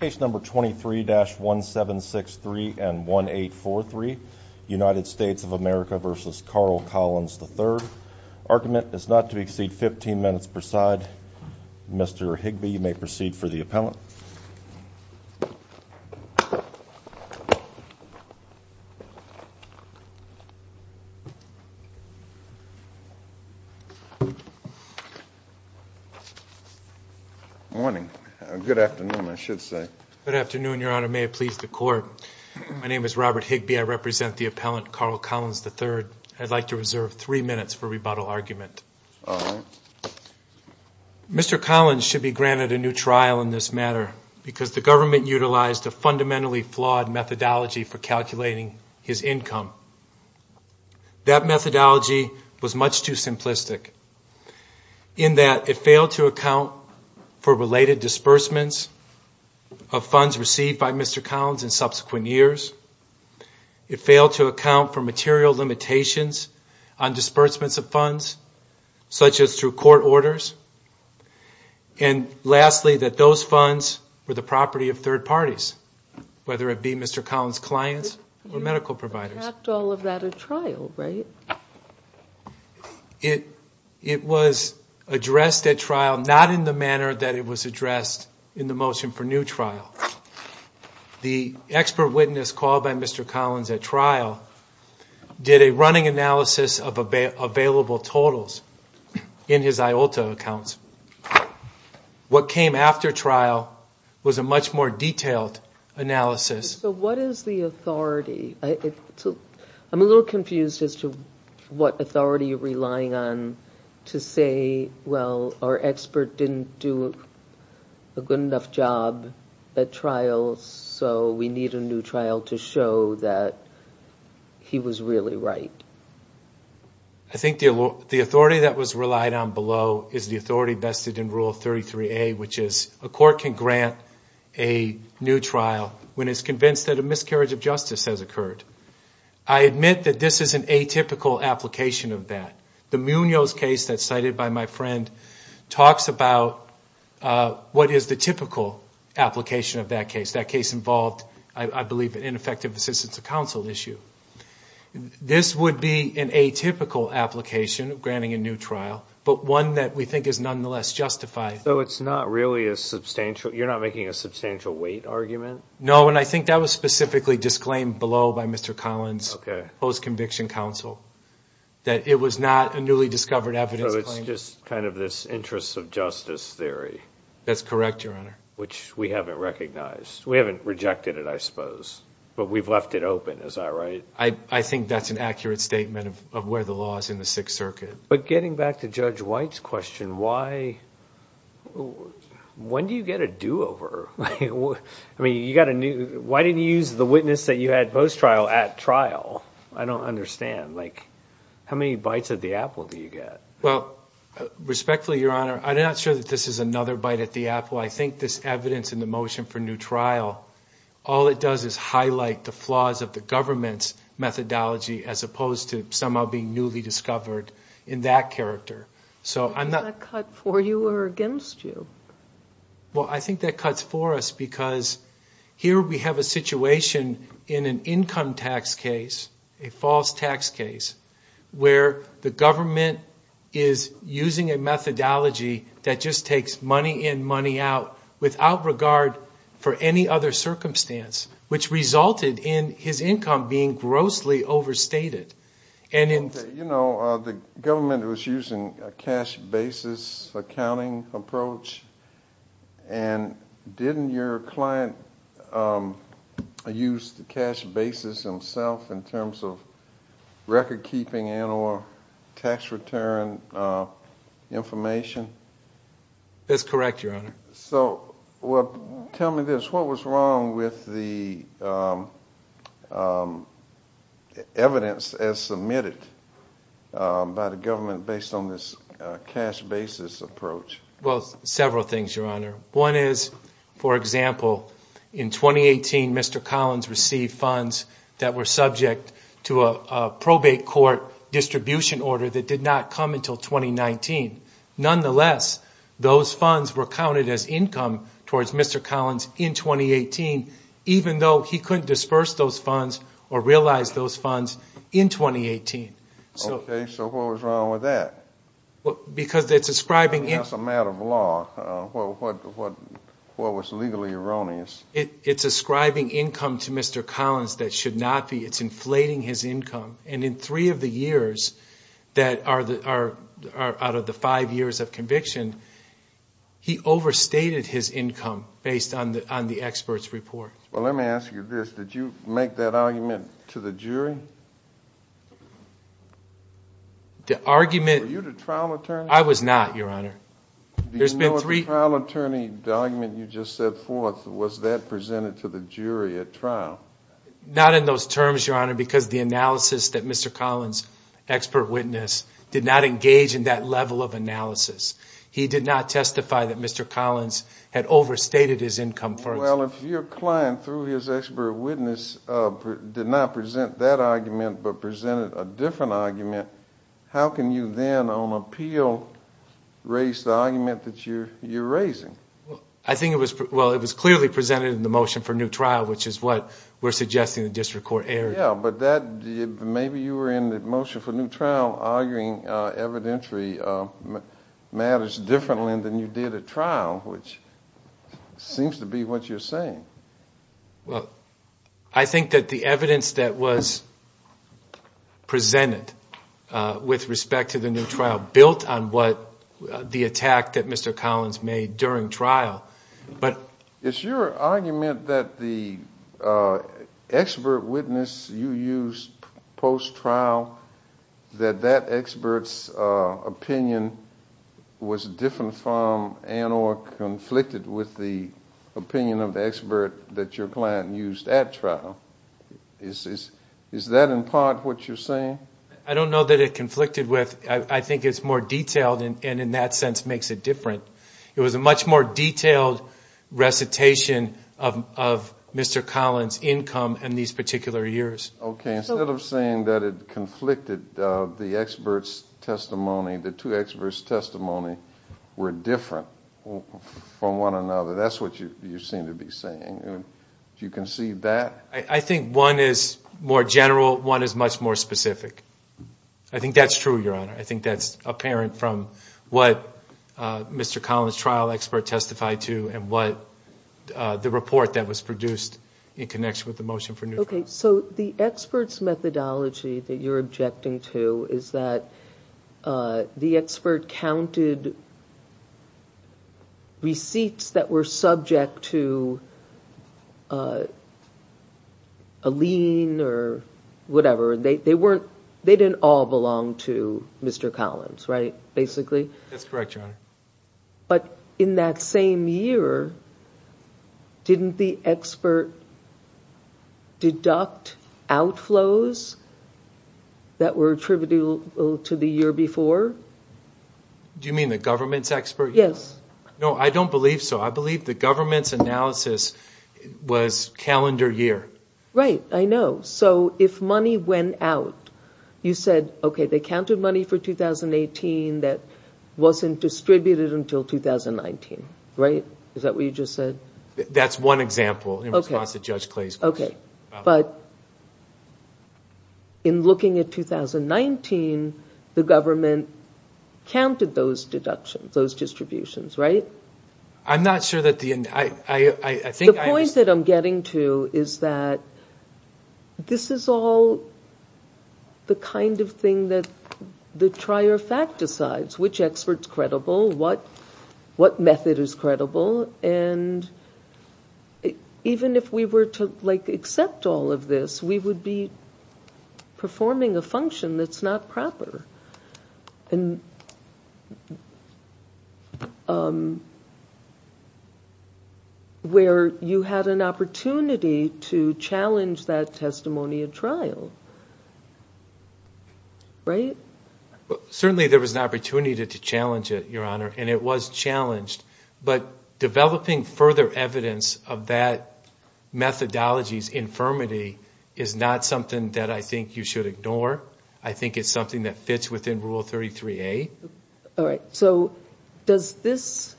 Case number 23-1763 and 1843 United States of America v. Carl Collins III Argument is not to exceed 15 minutes per side. Mr. Higby, you may proceed for the Good afternoon, Your Honor. May it please the Court. My name is Robert Higby. I represent the appellant, Carl Collins III. I'd like to reserve three minutes for rebuttal argument. Mr. Collins should be granted a new trial in this matter because the government utilized a fundamentally flawed methodology for calculating his income. That methodology was much too simplistic, in that it failed to account for related disbursements of funds received by Mr. Collins in subsequent years. It failed to account for material limitations on disbursements of funds, such as through court orders. And lastly, that those funds were the property of third parties, whether it be Mr. Collins' clients or medical providers. You didn't enact all of that at trial, right? It was addressed at trial, not in the manner that it was addressed in the motion for new trial. The expert witness called by Mr. Collins at trial did a running analysis of available totals in his IOLTA accounts. What came after trial was a much more detailed analysis. So what is the authority? I'm a little confused as to what authority you're relying on to say, well, our expert didn't do a good enough job at trial, so we need a new trial to show that he was really right. I think the authority that was relied on below is the authority vested in Rule 33A, which is a court can grant a new trial when it's convinced that a miscarriage of justice has occurred. I admit that this is an atypical application of that. The Munoz case that's cited by my friend talks about what is the typical application of that case. That case involved, I believe, an ineffective assistance of counsel issue. This would be an atypical application of granting a new trial, but one that we think is nonetheless justified. So it's not really a substantial, you're not making a substantial weight argument? No, and I think that was specifically disclaimed below by Mr. Collins post-conviction counsel, that it was not a newly discovered evidence claim. So it's just kind of this interests of justice theory? That's correct, Your Honor. Which we haven't recognized. We haven't rejected it, I suppose, but we've left it open, is that right? I think that's an accurate statement of where the law is in the Sixth Circuit. But getting back to Judge White's question, when do you get a do-over? Why didn't you use the witness that you had post-trial at trial? I don't understand. How many bites at the apple do you get? Well, respectfully, Your Honor, I'm not sure that this is another bite at the apple. I think this evidence in the motion for new trial, all it does is highlight the flaws of the government's methodology as opposed to somehow being newly discovered in that character. Is that cut for you or against you? Well, I think that cuts for us because here we have a situation in an income tax case, a false tax case, where the government is using a methodology that just takes money in, money out, without regard for any other circumstance, which resulted in his income being grossly overstated. You know, the government was using a cash basis accounting approach, and didn't your client use the cash basis himself in terms of record-keeping and or tax return information? That's correct, Your Honor. So, tell me this, what was wrong with the evidence as submitted by the government based on this cash basis approach? Well, several things, Your Honor. One is, for example, in 2018, Mr. Collins received funds that were subject to a probate court distribution order that did not come until 2019. Nonetheless, those funds were counted as income towards Mr. Collins in 2018, even though he couldn't disperse those funds or realize those funds in 2018. Okay, so what was wrong with that? Because it's ascribing... I mean, that's a matter of law. What was legally erroneous? It's ascribing income to Mr. Collins that should not be. It's inflating his income. And in three of the years that are out of the five years of conviction, he overstated his income based on the expert's report. Well, let me ask you this. Did you make that argument to the jury? The argument... Were you the trial attorney? I was not, Your Honor. Do you know if the trial attorney, the argument you just set forth, was that presented to the jury at trial? Not in those terms, Your Honor, because the analysis that Mr. Collins' expert witness did not engage in that level of analysis. He did not testify that Mr. Collins had overstated his income. Well, if your client, through his expert witness, did not present that argument but presented a different argument, how can you then, on appeal, raise the argument that you're raising? I think it was clearly presented in the motion for new trial, which is what we're suggesting the district court erred. Yeah, but maybe you were in the motion for new trial arguing evidentiary matters differently than you did at trial, which seems to be what you're saying. I think that the evidence that was presented with respect to the new trial, built on the attack that Mr. Collins made during trial. Is your argument that the expert witness you used post-trial, that that expert's opinion was different from and or conflicted with the opinion of the expert that your client used at trial? Is that in part what you're saying? I don't know that it conflicted with, I think it's more detailed and in that sense makes it different. It was a much more detailed recitation of Mr. Collins' income in these particular years. Okay, instead of saying that it conflicted, the two experts' testimony were different from one another. That's what you seem to be saying. Do you concede that? I think one is more general, one is much more specific. I think that's true, Your Honor. I think that's apparent from what Mr. Collins' trial expert testified to and what the report that was produced in connection with the motion for new trial. The expert's methodology that you're objecting to is that the expert counted receipts that were subject to a lien or whatever. They didn't all belong to Mr. Collins, right? That's correct, Your Honor. But in that same year, didn't the expert deduct outflows that were attributable to the year before? Do you mean the government's expert? Yes. No, I don't believe so. I believe the government's analysis was calendar year. Right, I know. So if money went out, you said, okay, they counted money for 2018 that wasn't distributed until 2019, right? Is that what you just said? That's one example in response to Judge Clay's question. But in looking at 2019, the government counted those deductions, those distributions, right? I'm not sure that the... The point that I'm getting to is that this is all the kind of thing that the trier of fact decides, which expert's credible, what method is credible. And even if we were to accept all of this, we would be performing a function that's not proper, where you had an opportunity to challenge that testimony at trial, right? Certainly there was an opportunity to challenge it, Your Honor, and it was challenged. But methodology's infirmity is not something that I think you should ignore. I think it's something that fits within Rule 33A. All right. So does this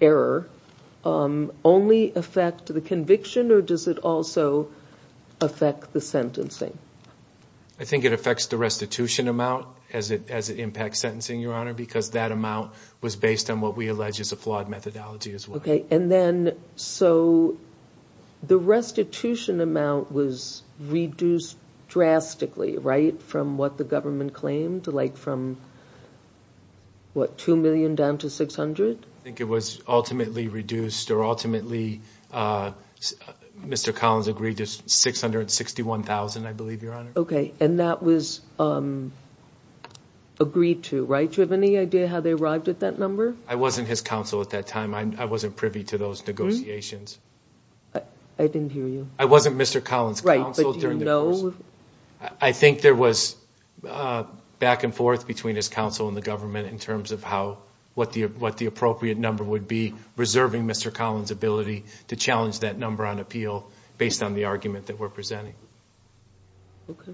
error only affect the conviction or does it also affect the sentencing? I think it affects the restitution amount as it impacts sentencing, Your Honor, because that amount was based on what we allege is a flawed methodology as well. Okay. And then, so the restitution amount was reduced drastically, right? From what the government claimed, like from what, 2 million down to 600? I think it was ultimately reduced or ultimately Mr. Collins agreed to 661,000, I believe, Your Honor. Okay. And that was agreed to, right? Do you have any idea how they arrived at that number? I wasn't his counsel at that time. I wasn't privy to those negotiations. I didn't hear you. I wasn't Mr. Collins' counsel. Right, but do you know? I think there was back and forth between his counsel and the government in terms of how, what the appropriate number would be, reserving Mr. Collins' ability to challenge that number on appeal based on the argument that we're presenting. Okay.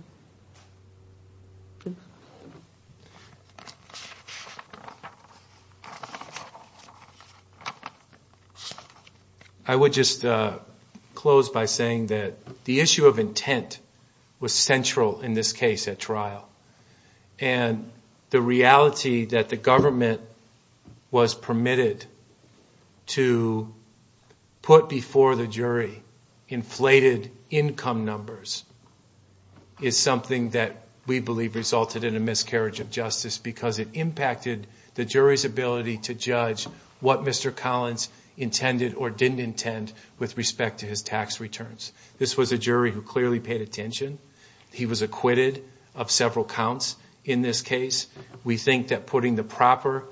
I would just close by saying that the issue of intent was central in this case at trial. And the reality that the government was permitted to put before the jury inflated income numbers is something that we believe resulted in a miscarriage of justice because it impacted the jury's ability to judge what Mr. Collins intended or didn't intend with respect to his tax returns. This was a jury who clearly paid attention. He was acquitted of several counts in this case. We think that putting the proper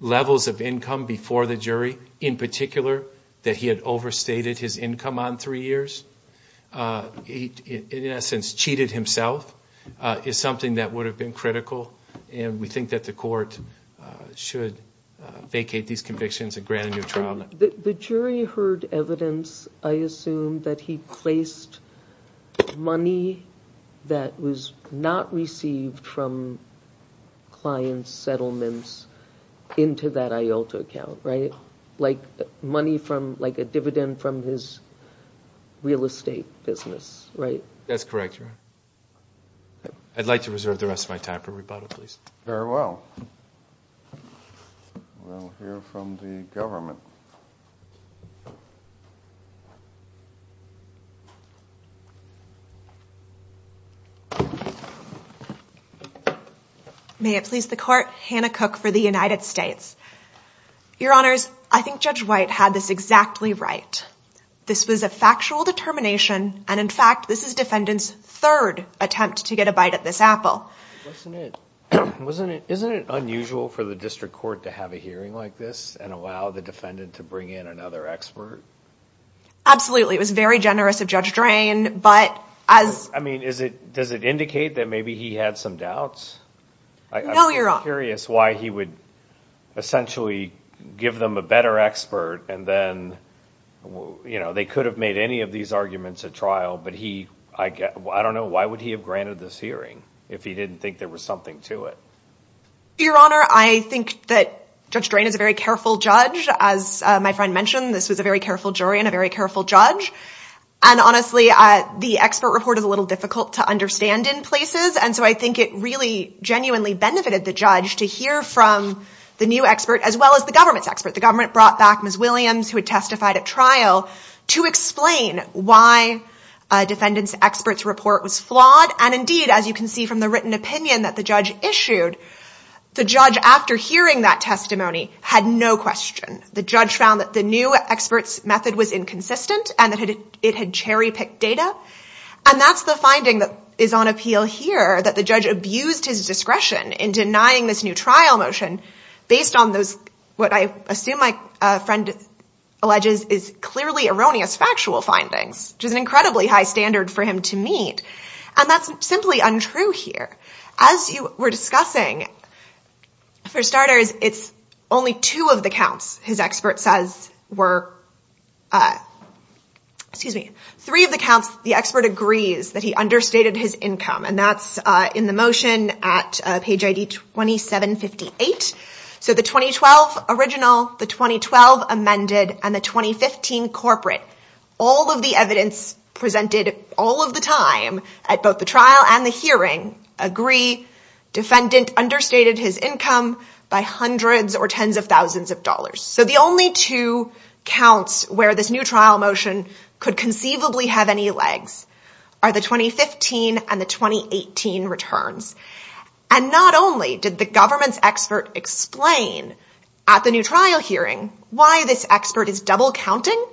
levels of income before the jury, in particular that he had overstated his income on three years, in essence cheated himself, is something that would have been critical. And we think that the court should vacate these convictions and grant a new trial. The jury heard evidence, I assume, that he placed money that was not received from client settlements into that IOLTA account, right? Like money from, like a dividend from his real estate business, right? That's correct, Your Honor. I'd like to reserve the rest of my time for rebuttal, please. Very well. We'll hear from the government. May it please the court, Hannah Cook for the United States. Your Honors, I think Judge White had this exactly right. This was a factual determination, and in fact, this is defendant's third attempt to get a bite at this apple. Isn't it unusual for the district court to have a hearing like this and allow the defendant to bring in another expert? Absolutely. It was very generous of Judge Drain, but as... I mean, does it indicate that maybe he had some doubts? No, Your Honor. I'm just curious why he would essentially give them a better expert, and then they could have made any of these arguments at trial, but he... I don't know, why would he have to do that if he didn't think there was something to it? Your Honor, I think that Judge Drain is a very careful judge. As my friend mentioned, this was a very careful jury and a very careful judge, and honestly, the expert report is a little difficult to understand in places, and so I think it really genuinely benefited the judge to hear from the new expert, as well as the government's The government brought back Ms. Williams, who had testified at trial, to explain why a defendant's expert's report was flawed, and indeed, as you can see from the written opinion that the judge issued, the judge, after hearing that testimony, had no question. The judge found that the new expert's method was inconsistent and that it had cherry-picked data, and that's the finding that is on appeal here, that the judge abused his discretion in denying this new trial motion based on those, what I assume my friend alleges, is an incredibly high standard for him to meet, and that's simply untrue here. As you were discussing, for starters, it's only two of the counts his expert says were... Three of the counts the expert agrees that he understated his income, and that's in the motion at page ID 2758, so the 2012 original, the 2012 amended, and the 2015 corporate. All of the evidence presented all of the time at both the trial and the hearing agree defendant understated his income by hundreds or tens of thousands of dollars, so the only two counts where this new trial motion could conceivably have any legs are the 2015 and the 2018 returns. Not only did the government's expert explain at the new trial hearing why this expert is double-counting,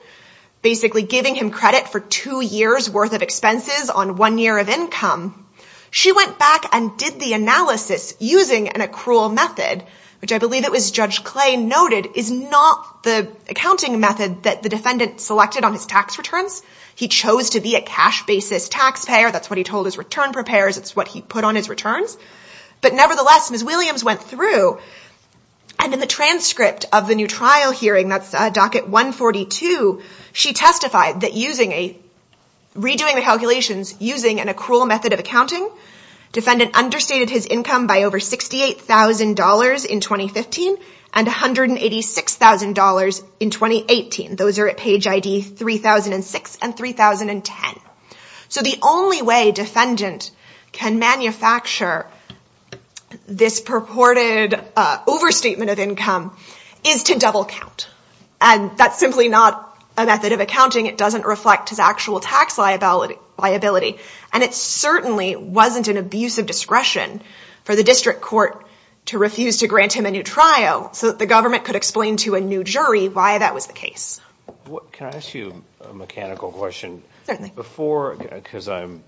basically giving him credit for two years' worth of expenses on one year of income, she went back and did the analysis using an accrual method, which I believe it was Judge Clay noted is not the accounting method that the defendant selected on his tax returns. He chose to be a cash basis taxpayer. That's what he told his return preparers. It's what he put on his returns, but nevertheless, Ms. Williams went through, and in the transcript of the new trial hearing, that's docket 142, she testified that redoing the calculations using an accrual method of accounting, defendant understated his income by over $68,000 in 2015 and $186,000 in 2018. Those are at page ID 3006 and 3010, so the only way defendant can manufacture this purported overstatement of income is to double-count, and that's simply not a method of accounting. It doesn't reflect his actual tax liability, and it certainly wasn't an abuse of discretion for the district court to refuse to grant him a new trial so that the government could explain to a new jury why that was the case. Can I ask you a mechanical question? Certainly. Before, because I'm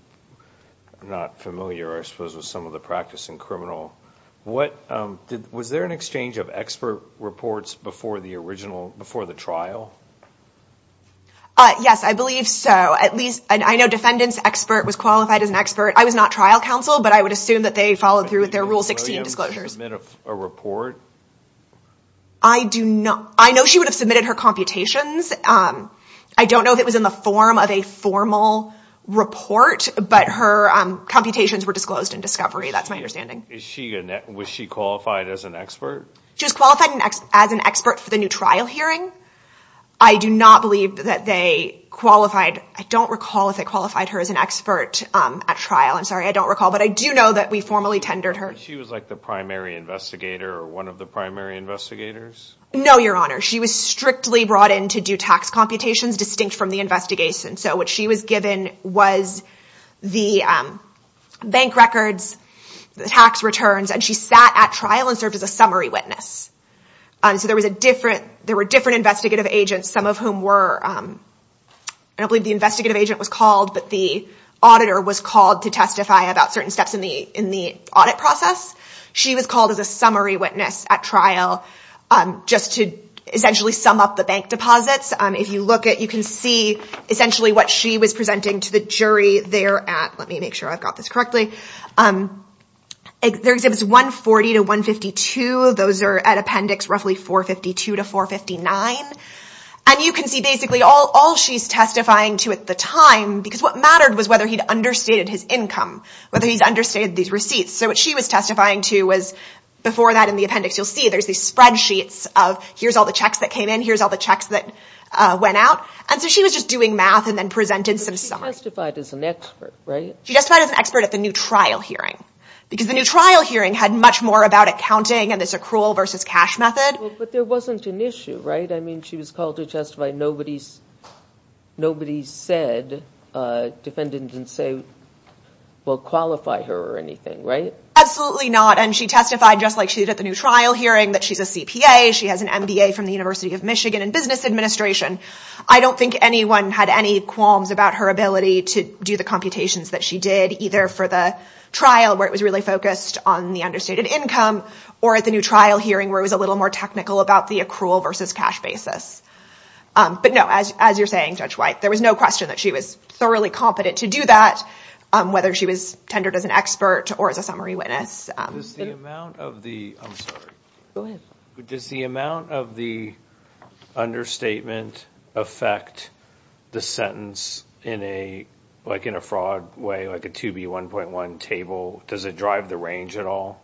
not familiar, I suppose, with some of the practice in criminal, was there an exchange of expert reports before the trial? Yes, I believe so. I know defendant's expert was qualified as an expert. I was not trial counsel, but I would assume that they followed through with their Rule 16 disclosures. Did Ms. Williams submit a report? I do not. I know she would have submitted her computations. I don't know if it was in the form of a formal report, but her computations were disclosed in discovery. That's my understanding. Was she qualified as an expert? She was qualified as an expert for the new trial hearing. I do not believe that they qualified. I don't recall if they qualified her as an expert at trial. I'm sorry, I don't recall, but I do know that we formally tendered her. She was like the primary investigator or one of the primary investigators? No, Your Honor. She was strictly brought in to do tax computations distinct from the investigation. What she was given was the bank records, the tax returns, and she sat at trial and served as a summary witness. There were different investigative agents, some of whom were, I don't believe the investigative agent was called, but the auditor was called to testify about certain steps in the audit process. She was called as a summary witness at trial just to essentially sum up the bank deposits. If you look at it, you can see essentially what she was presenting to the jury there at, let me make sure I've got this correctly, there was 140 to 152. Those are at appendix roughly 452 to 459. You can see basically all she's testifying to at the time because what mattered was whether he'd understated his income, whether he'd understated these receipts. So what she was testifying to was before that in the appendix, you'll see there's these spreadsheets of here's all the checks that came in, here's all the checks that went out. And so she was just doing math and then presented some summary. But she testified as an expert, right? She testified as an expert at the new trial hearing because the new trial hearing had much more about accounting and this accrual versus cash method. Well, but there wasn't an issue, right? I mean, she was called to testify. Nobody said, defended and said, well, qualify her or anything, right? Absolutely not. And she testified just like she did at the new trial hearing that she's a CPA, she has an MBA from the University of Michigan in business administration. I don't think anyone had any qualms about her ability to do the computations that she did either for the trial where it was really focused on the understated income or at the new trial hearing where it was a little more technical about the accrual versus cash basis. But no, as you're saying, Judge White, there was no question that she was thoroughly competent to do that, whether she was tendered as an expert or as a summary witness. Does the amount of the understatement affect the sentence like in a fraud way, like a 2B1.1 table, does it drive the range at all?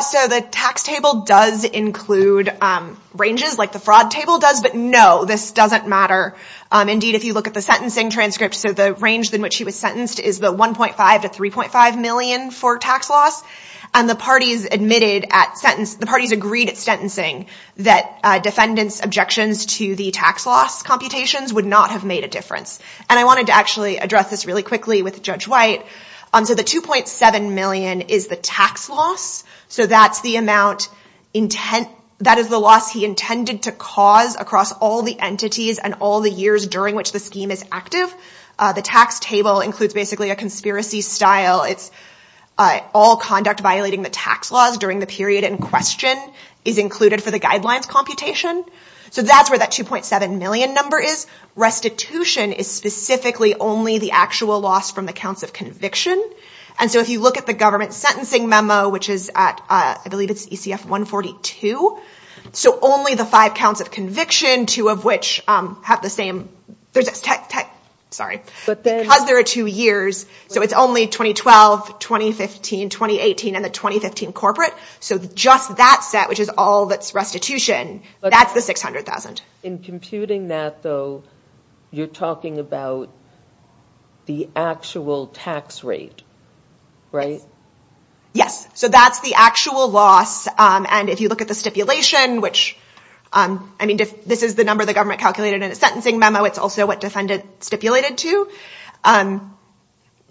So the tax table does include ranges like the fraud table does, but no, this doesn't matter. Indeed, if you look at the sentencing transcript, so the range in which she was sentenced is the 1.5 to 3.5 million for tax loss. And the parties admitted at sentence, the parties agreed at sentencing that defendants objections to the tax loss computations would not have made a difference. And I wanted to actually address this really quickly with Judge White. So the 2.7 million is the tax loss. So that's the amount, that is the loss he intended to cause across all the entities and all the years during which the scheme is active. The tax table includes basically a conspiracy style. It's all conduct violating the tax laws during the period in question is included for the guidelines computation. So that's where that 2.7 million number is. Restitution is specifically only the actual loss from the counts of conviction. And so if you look at the government sentencing memo, which is at, I believe it's ECF 142. So only the five counts of conviction, two of which have the same, sorry, because there are two years. So it's only 2012, 2015, 2018, and the 2015 corporate. So just that set, which is all that's restitution, that's the 600,000. In computing that though, you're talking about the actual tax rate, right? Yes. So that's the actual loss. And if you look at the stipulation, which I mean, this is the number of the government calculated in a sentencing memo. It's also what defendant stipulated to.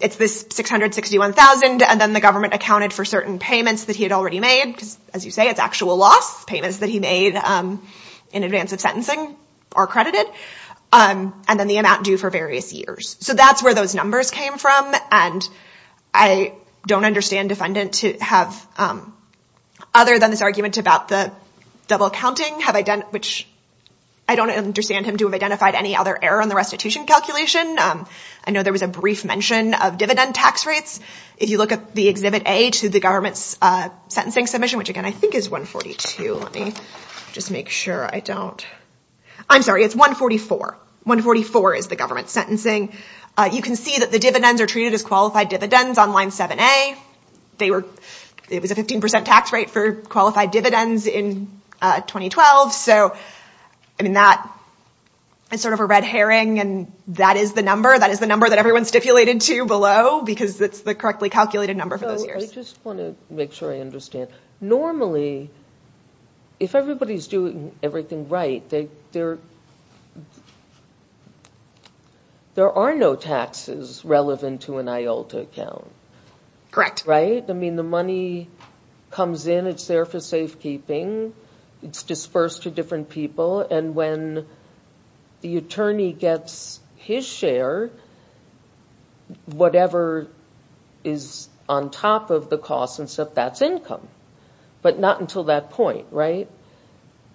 It's this 661,000. And then the government accounted for certain payments that he had already made. Because as you say, it's actual loss payments that he made in advance of sentencing are credited. And then the amount due for various years. So that's where those numbers came from. And I don't understand defendant to have, other than this argument about the double counting, which I don't understand him to have identified any other error on the restitution calculation. I know there was a brief mention of dividend tax rates. If you look at the exhibit A to the government's sentencing submission, which again, I think is 142. Let me just make sure I don't. I'm sorry. It's 144. 144 is the government's sentencing. You can see that the dividends are treated as qualified dividends on line 7A. It was a 15% tax rate for qualified dividends in 2012. So I mean, that is sort of a red herring. And that is the number. That is the number that everyone stipulated to below because it's the correctly calculated number for those years. I just want to make sure I understand. Normally, if everybody's doing everything right, there are no taxes relevant to an IOLTA account. Correct. Right? I mean, the money comes in, it's there for safekeeping. It's dispersed to different people. And when the attorney gets his share, whatever is on top of the cost and stuff, that's income. But not until that point, right?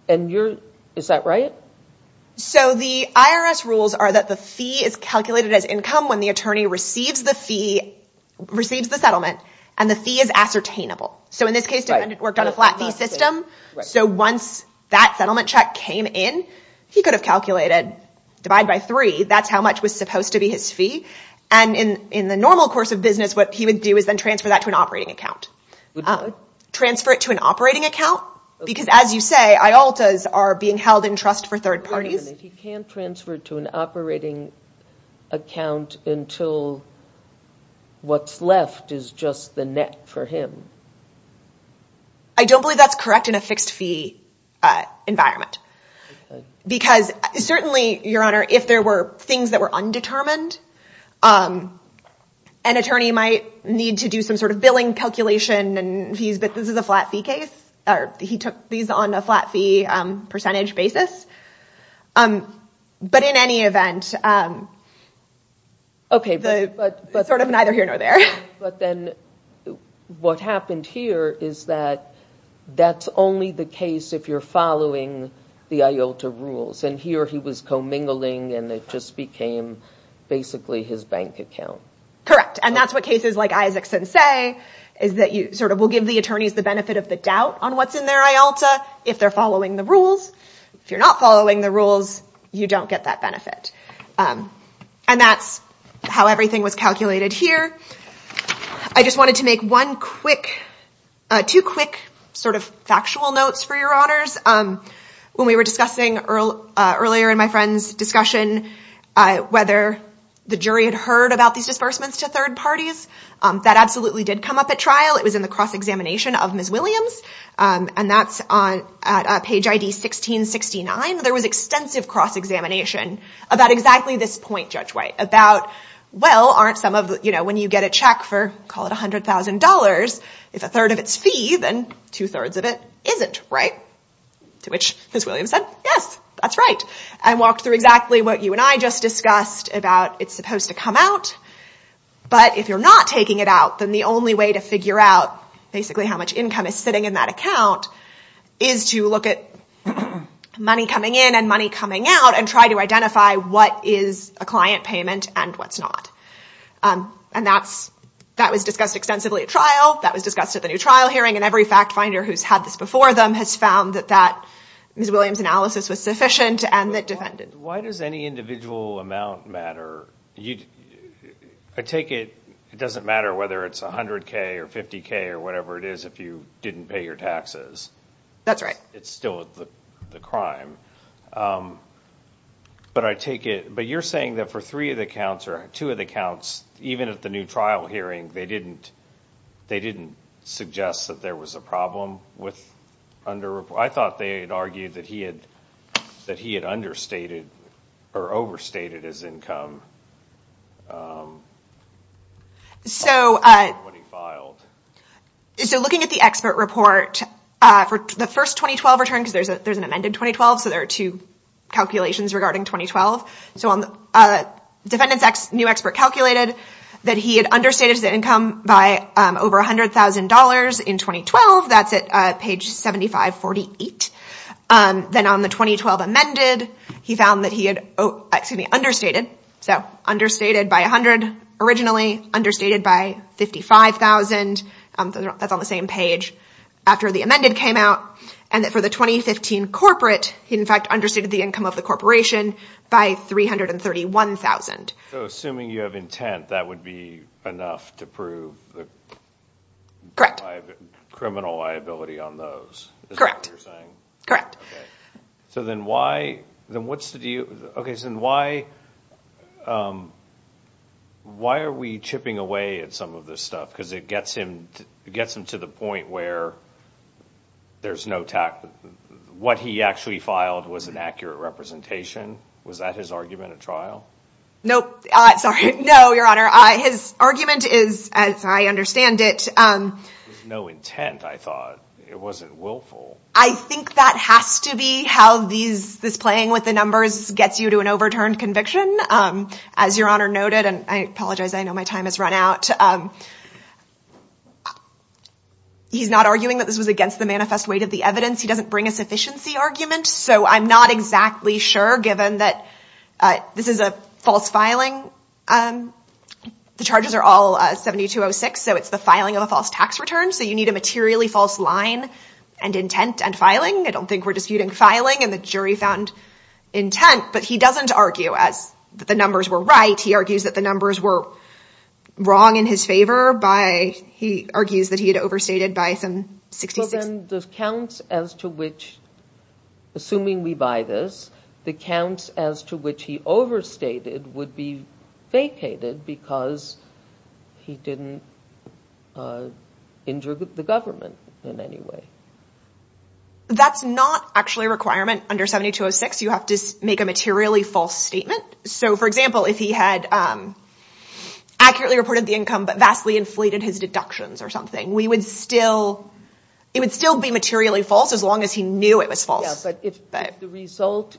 Is that right? So the IRS rules are that the fee is calculated as income when the attorney receives the fee, receives the settlement, and the fee is ascertainable. So in this case, came in, he could have calculated divide by three. That's how much was supposed to be his fee. And in the normal course of business, what he would do is then transfer that to an operating account. Transfer it to an operating account. Because as you say, IOLTAs are being held in trust for third parties. He can't transfer it to an operating account until what's left is just the net for him. I don't believe that's correct in a fixed fee environment. Because certainly, Your Honor, if there were things that were undetermined, an attorney might need to do some sort of billing calculation and fees, but this is a flat fee case. He took these on a flat fee percentage basis. But in any event, sort of neither here nor there. But then what happened here is that that's only the case if you're following the IOLTA rules. And here he was commingling and it just became basically his bank account. Correct. And that's what cases like Isaacson say is that you sort of will give the attorneys the benefit of the doubt on what's in their IOLTA if they're following the rules. If you're not following the rules, you don't get that benefit. And that's how everything was calculated here. I just wanted to make two quick sort of factual notes for Your Honors. When we were discussing earlier in my friend's discussion whether the jury had heard about these disbursements to third parties, that absolutely did come up at trial. It was in the cross-examination of Ms. Williams, and that's at page ID 1669. There was extensive cross-examination about exactly this point, about when you get a check for, call it $100,000, if a third of it's fee, then two-thirds of it isn't. To which Ms. Williams said, yes, that's right, and walked through exactly what you and I just discussed about it's supposed to come out. But if you're not taking it out, then the only way to figure out basically how much income is sitting in that account is to look at money coming in and money coming out and try to identify what is a client payment and what's not. And that was discussed extensively at trial, that was discussed at the new trial hearing, and every fact finder who's had this before them has found that Ms. Williams' analysis was sufficient and that defended. Why does any individual amount matter? I take it it doesn't matter whether it's $100K or $50K or whatever it is if you didn't pay your taxes. That's right. It's still the crime. But I take it, but you're saying that for three of the accounts or two of the accounts, even at the new trial hearing, they didn't suggest that there was a problem with underreporting. I thought they had argued that he had understated or overstated his income. So looking at the expert report for the first 2012 return, because there's an amended 2012, so there are two calculations regarding 2012. So the defendant's new expert calculated that he had understated his income by over $100,000 in 2012. That's at page 7548. Then on the 2012 amended, he found that he had understated. So understated by 100 originally, understated by 55,000. That's on the same page. After the amended came out, and that for the 2015 corporate, he in fact understated the income of the corporation by $331,000. So assuming you have intent, that would be enough to prove the criminal liability on those, is that what you're saying? Correct. So then why are we chipping away at some of this stuff? Because it gets him to the point where what he actually filed was an accurate representation. Was that his argument at trial? Nope. Sorry. No, Your Honor. His argument is, as I understand it- There was no intent, I thought. It wasn't willful. I think that has to be how this playing with the numbers gets you to an overturned conviction. As Your Honor noted, and I apologize, I know my time has run out. He's not arguing that this was against the manifest weight of the evidence. He doesn't bring a sufficiency argument. So I'm not exactly sure, given that this is a false filing. The charges are all 7206, so it's the filing of a false tax return. So you need a materially false line and intent and filing. I don't think we're disputing filing and the jury found intent, but he doesn't argue that the numbers were right. He argues that the numbers were wrong in his favor by, he argues that he had overstated by some 66- So then the counts as to which, assuming we buy this, the counts as to which he overstated would be vacated because he didn't injure the government in any way. So that's not actually a requirement under 7206. You have to make a materially false statement. So for example, if he had accurately reported the income, but vastly inflated his deductions or something, it would still be materially false as long as he knew it was false. But if the result,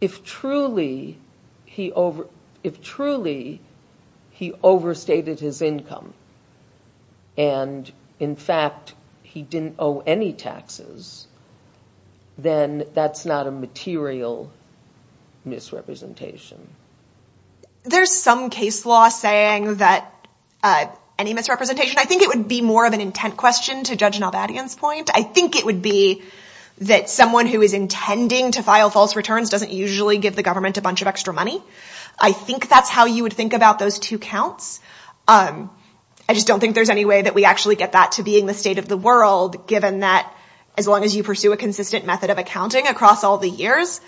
if truly he overstated his income and in fact he didn't owe any taxes, then that's not a material misrepresentation. There's some case law saying that any misrepresentation, I think it would be more an intent question to judge Nalbadyan's point. I think it would be that someone who is intending to file false returns doesn't usually give the government a bunch of extra money. I think that's how you would think about those two counts. I just don't think there's any way that we actually get that to being the state of the world, given that as long as you pursue a consistent method of accounting across all the years,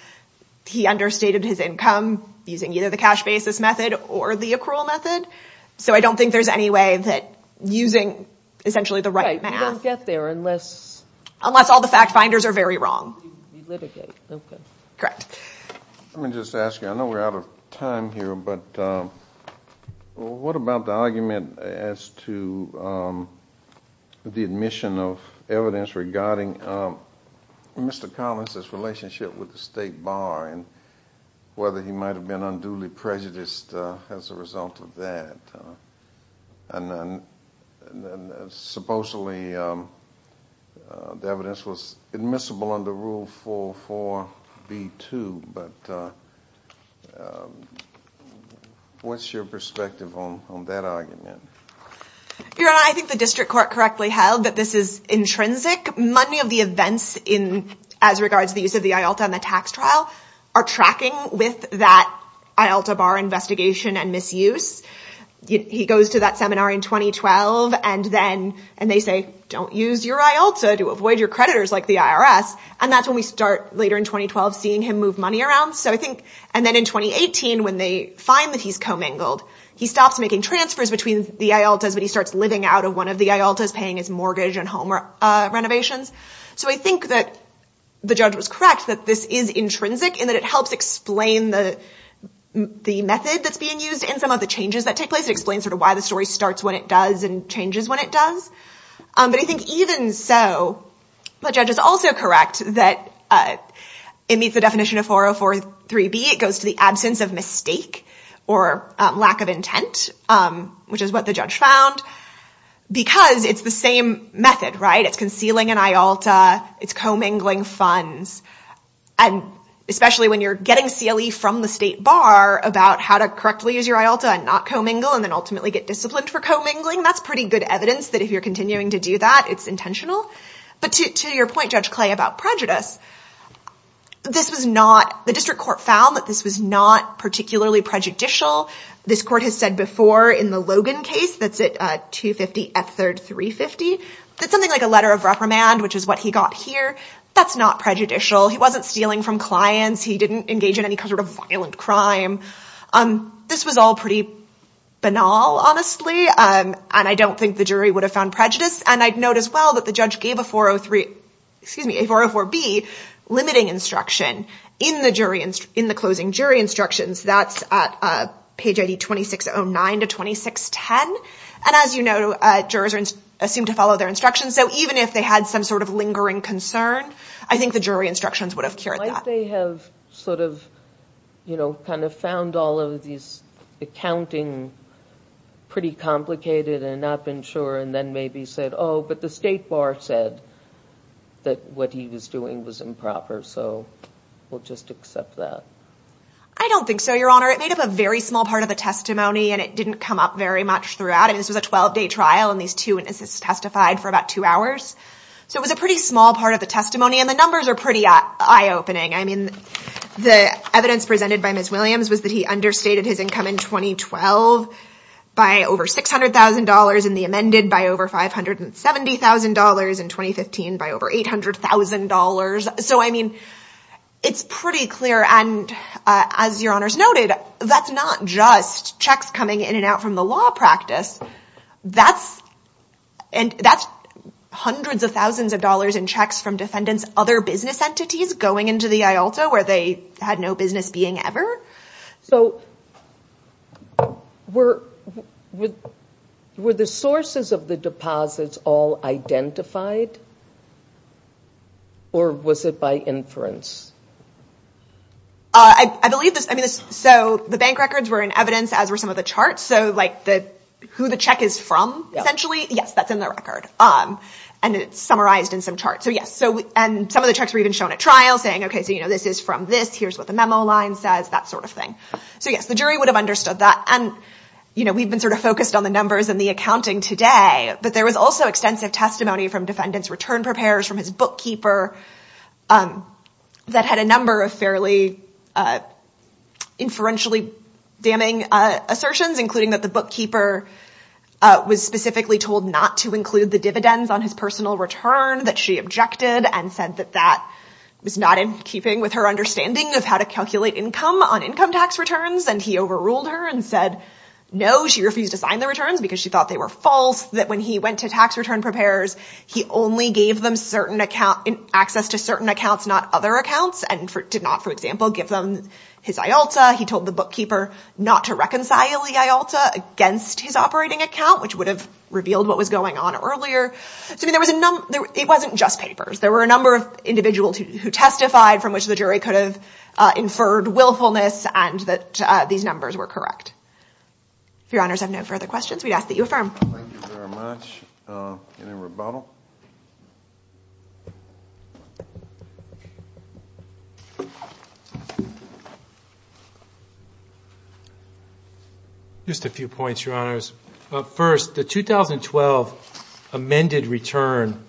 he understated his income using either cash basis method or the accrual method. So I don't think there's any way that using essentially the right math. You don't get there unless... Unless all the fact finders are very wrong. You litigate. Correct. Let me just ask you, I know we're out of time here, but what about the argument as to the admission of evidence regarding Mr. Collins' relationship with the state bar and whether he might have been unduly prejudiced as a result of that? And then supposedly the evidence was admissible under Rule 4.4.B.2, but what's your perspective on that argument? Your Honor, I think the district court correctly held that this is intrinsic. Many of the events as regards to the use of the IALTA and the tax trial are tracking with that IALTA bar investigation and misuse. He goes to that seminar in 2012, and they say, don't use your IALTA to avoid your creditors like the IRS. And that's when we start later in 2012 seeing him move money around. And then in 2018, when they find that he's commingled, he stops making transfers between the IALTAs, but he starts living out of one of the IALTAs, mortgage and home renovations. So I think that the judge was correct that this is intrinsic and that it helps explain the method that's being used in some of the changes that take place. It explains sort of why the story starts when it does and changes when it does. But I think even so, the judge is also correct that it meets the definition of 404.3.B. It goes to the absence of mistake or lack of intent, which is what the judge found, because it's the same method, right? It's concealing an IALTA, it's commingling funds. And especially when you're getting CLE from the state bar about how to correctly use your IALTA and not commingle and then ultimately get disciplined for commingling, that's pretty good evidence that if you're continuing to do that, it's intentional. But to your point, Judge Clay, about prejudice, the district court found that this was not particularly prejudicial. This court has said before in the Logan case, that's at 250 F3rd 350. That's something like a letter of reprimand, which is what he got here. That's not prejudicial. He wasn't stealing from clients. He didn't engage in any kind of violent crime. This was all pretty banal, honestly. And I don't think the jury would have found prejudice. And I'd note as well that the judge gave a 404B limiting instruction in the closing jury instructions. That's at page ID 2609 to 2610. And as you know, jurors are assumed to follow their instructions. So even if they had some sort of lingering concern, I think the jury instructions would have cured that. Might they have found all of these accounting pretty complicated and not been sure and then maybe said, oh, but the state bar said that what he was doing was improper. So we'll just accept that. I don't think so, Your Honor. It made up a very small part of the testimony and it didn't come up very much throughout. And this was a 12 day trial and these two witnesses testified for about two hours. So it was a pretty small part of the testimony. And the numbers are pretty eye opening. I mean, the evidence presented by Ms. Williams was that understated his income in 2012 by over $600,000 and the amended by over $570,000 in 2015 by over $800,000. So I mean, it's pretty clear. And as Your Honors noted, that's not just checks coming in and out from the law practice. That's hundreds of thousands of dollars in checks from defendants, other business entities going into the IALTA where they had no business being ever. So were the sources of the deposits all identified or was it by inference? I believe this. I mean, so the bank records were in evidence as were some of the charts. So like the who the check is from, essentially, yes, that's in the record. And it's summarized in some charts. So yes. And some of the checks were even shown at trial saying, OK, so this is from this. Here's what the memo line says, that sort of thing. So yes, the jury would have understood that. And we've been sort of focused on the numbers and the accounting today. But there was also extensive testimony from defendants return preparers from his bookkeeper that had a number of fairly inferentially damning assertions, including that the bookkeeper was specifically told not to include the dividends on his personal return, that she objected and said that that was not in keeping with her understanding of how to calculate income on income tax returns. And he overruled her and said, no, she refused to sign the returns because she thought they were false, that when he went to tax return preparers, he only gave them access to certain accounts, not other accounts, and did not, for example, give them his IALTA. He told the bookkeeper not to reconcile the IALTA against his operating account, which would have revealed what was going on earlier. So it wasn't just papers. There were a number of individuals who testified from which the jury could have inferred willfulness and that these numbers were correct. If your honors have no further questions, we'd ask that you affirm. Thank you very much. Any rebuttal? Just a few points, your honors. First, the 2012 amended return,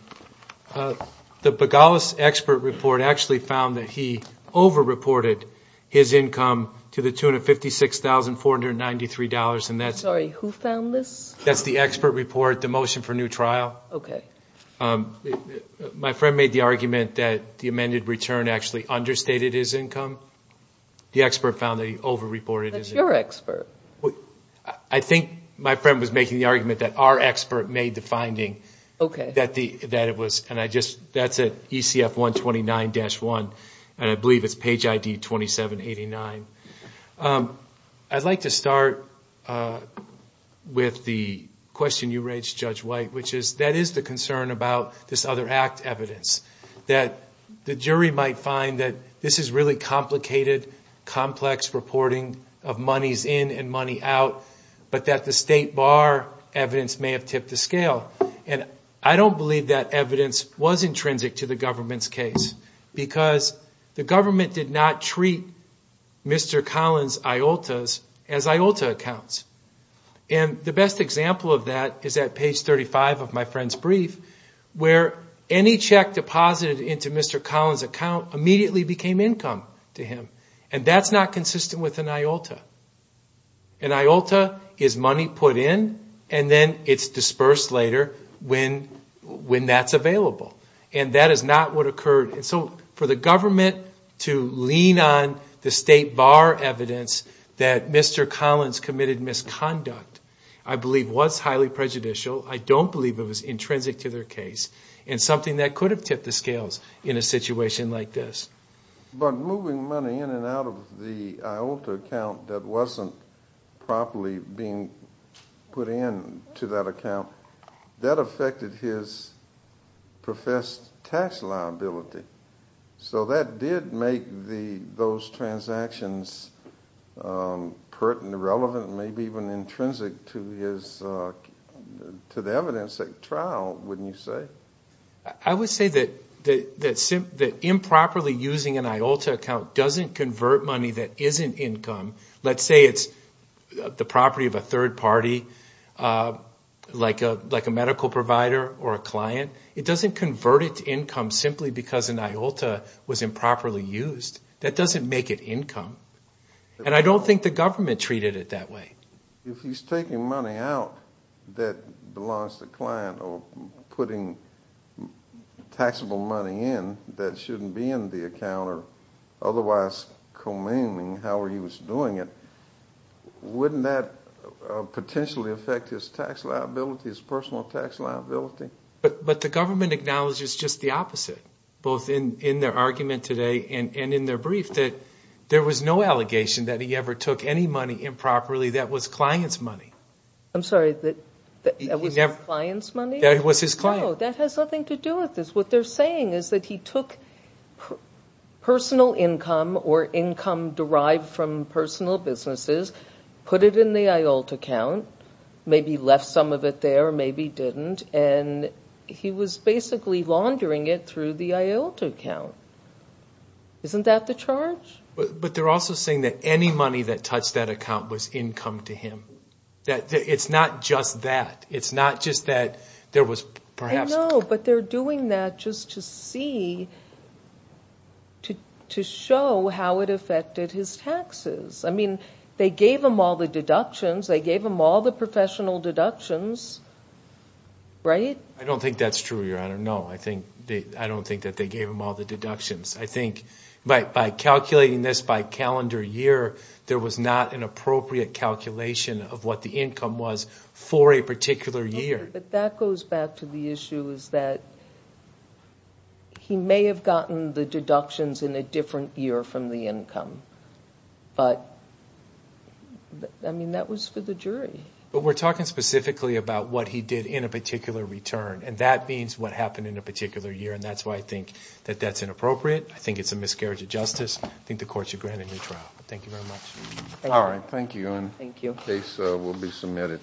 the Bogalis expert report actually found that he over-reported his income to the tune of $56,493. Sorry, who found this? That's the expert report, the motion for new trial. My friend made the argument that the amended return actually understated his income. The expert found that he over-reported his income. That's your expert. I think my friend was making the argument that our expert made the finding that it was, and that's at ECF 129-1, and I believe it's page ID 2789. I'd like to start with the question you raised, Judge White, which is that is the concern about this other act evidence, that the jury might find that this is really complicated, complex reporting of monies in and money out, but that the state bar evidence may have tipped the scale. And I don't believe that evidence was intrinsic to the government's case because the government did not treat Mr. Collins IOTAs as IOTA accounts. And the best example of that is at page 35 of my friend's brief, where any check deposited into Mr. Collins' account immediately became income to him, and that's not consistent with an IOTA. An IOTA is money put in, and then it's dispersed later when that's available, and that is not what occurred. And so for the government to lean on the state bar evidence that Mr. Collins committed misconduct, I believe was highly prejudicial. I don't believe it was intrinsic to their case, and something that could have tipped the scales in a situation like this. But moving money in and out of the IOTA account that wasn't properly being put in to that account, that affected his professed tax liability. So that did make those transactions pertinent, relevant, maybe even intrinsic to the evidence at trial, wouldn't you say? I would say that improperly using an IOTA account doesn't convert money that isn't income. Let's say it's the property of a third party, like a medical provider or a client. It doesn't convert it to income simply because an IOTA was improperly used. That doesn't make it income. And I don't think the government treated it that way. If he's taking money out that belongs to the client or putting taxable money in that shouldn't be in the account or otherwise communing how he was doing it, wouldn't that potentially affect his tax liability, his personal tax liability? But the government acknowledges just the opposite, both in their argument today and in their brief, that there was no allegation that he ever took any money improperly that was clients' money. I'm sorry, that was his client's money? That was his client's. No, that has nothing to do with this. What they're saying is that he took personal income or income derived from personal businesses, put it in the IOTA account, maybe left some of it there, maybe didn't, and he was basically laundering it through the IOTA account. Isn't that the charge? But they're also saying that any money that touched that account was income to him. It's not just that. It's not just that there was perhaps... But they're doing that just to show how it affected his taxes. I mean, they gave him all the deductions. They gave him all the professional deductions, right? I don't think that's true, Your Honor. No, I don't think that they gave him all the deductions. I think by calculating this by calendar year, there was not an appropriate calculation of what the income was for a particular year. But that goes back to the issue is that he may have gotten the deductions in a different year from the income, but I mean, that was for the jury. But we're talking specifically about what he did in a particular return, and that means what happened in a particular year, and that's why I think that that's inappropriate. I think it's a miscarriage of justice. I think the court should grant a new trial. Thank you very much. All right. Thank you, and the case will be submitted.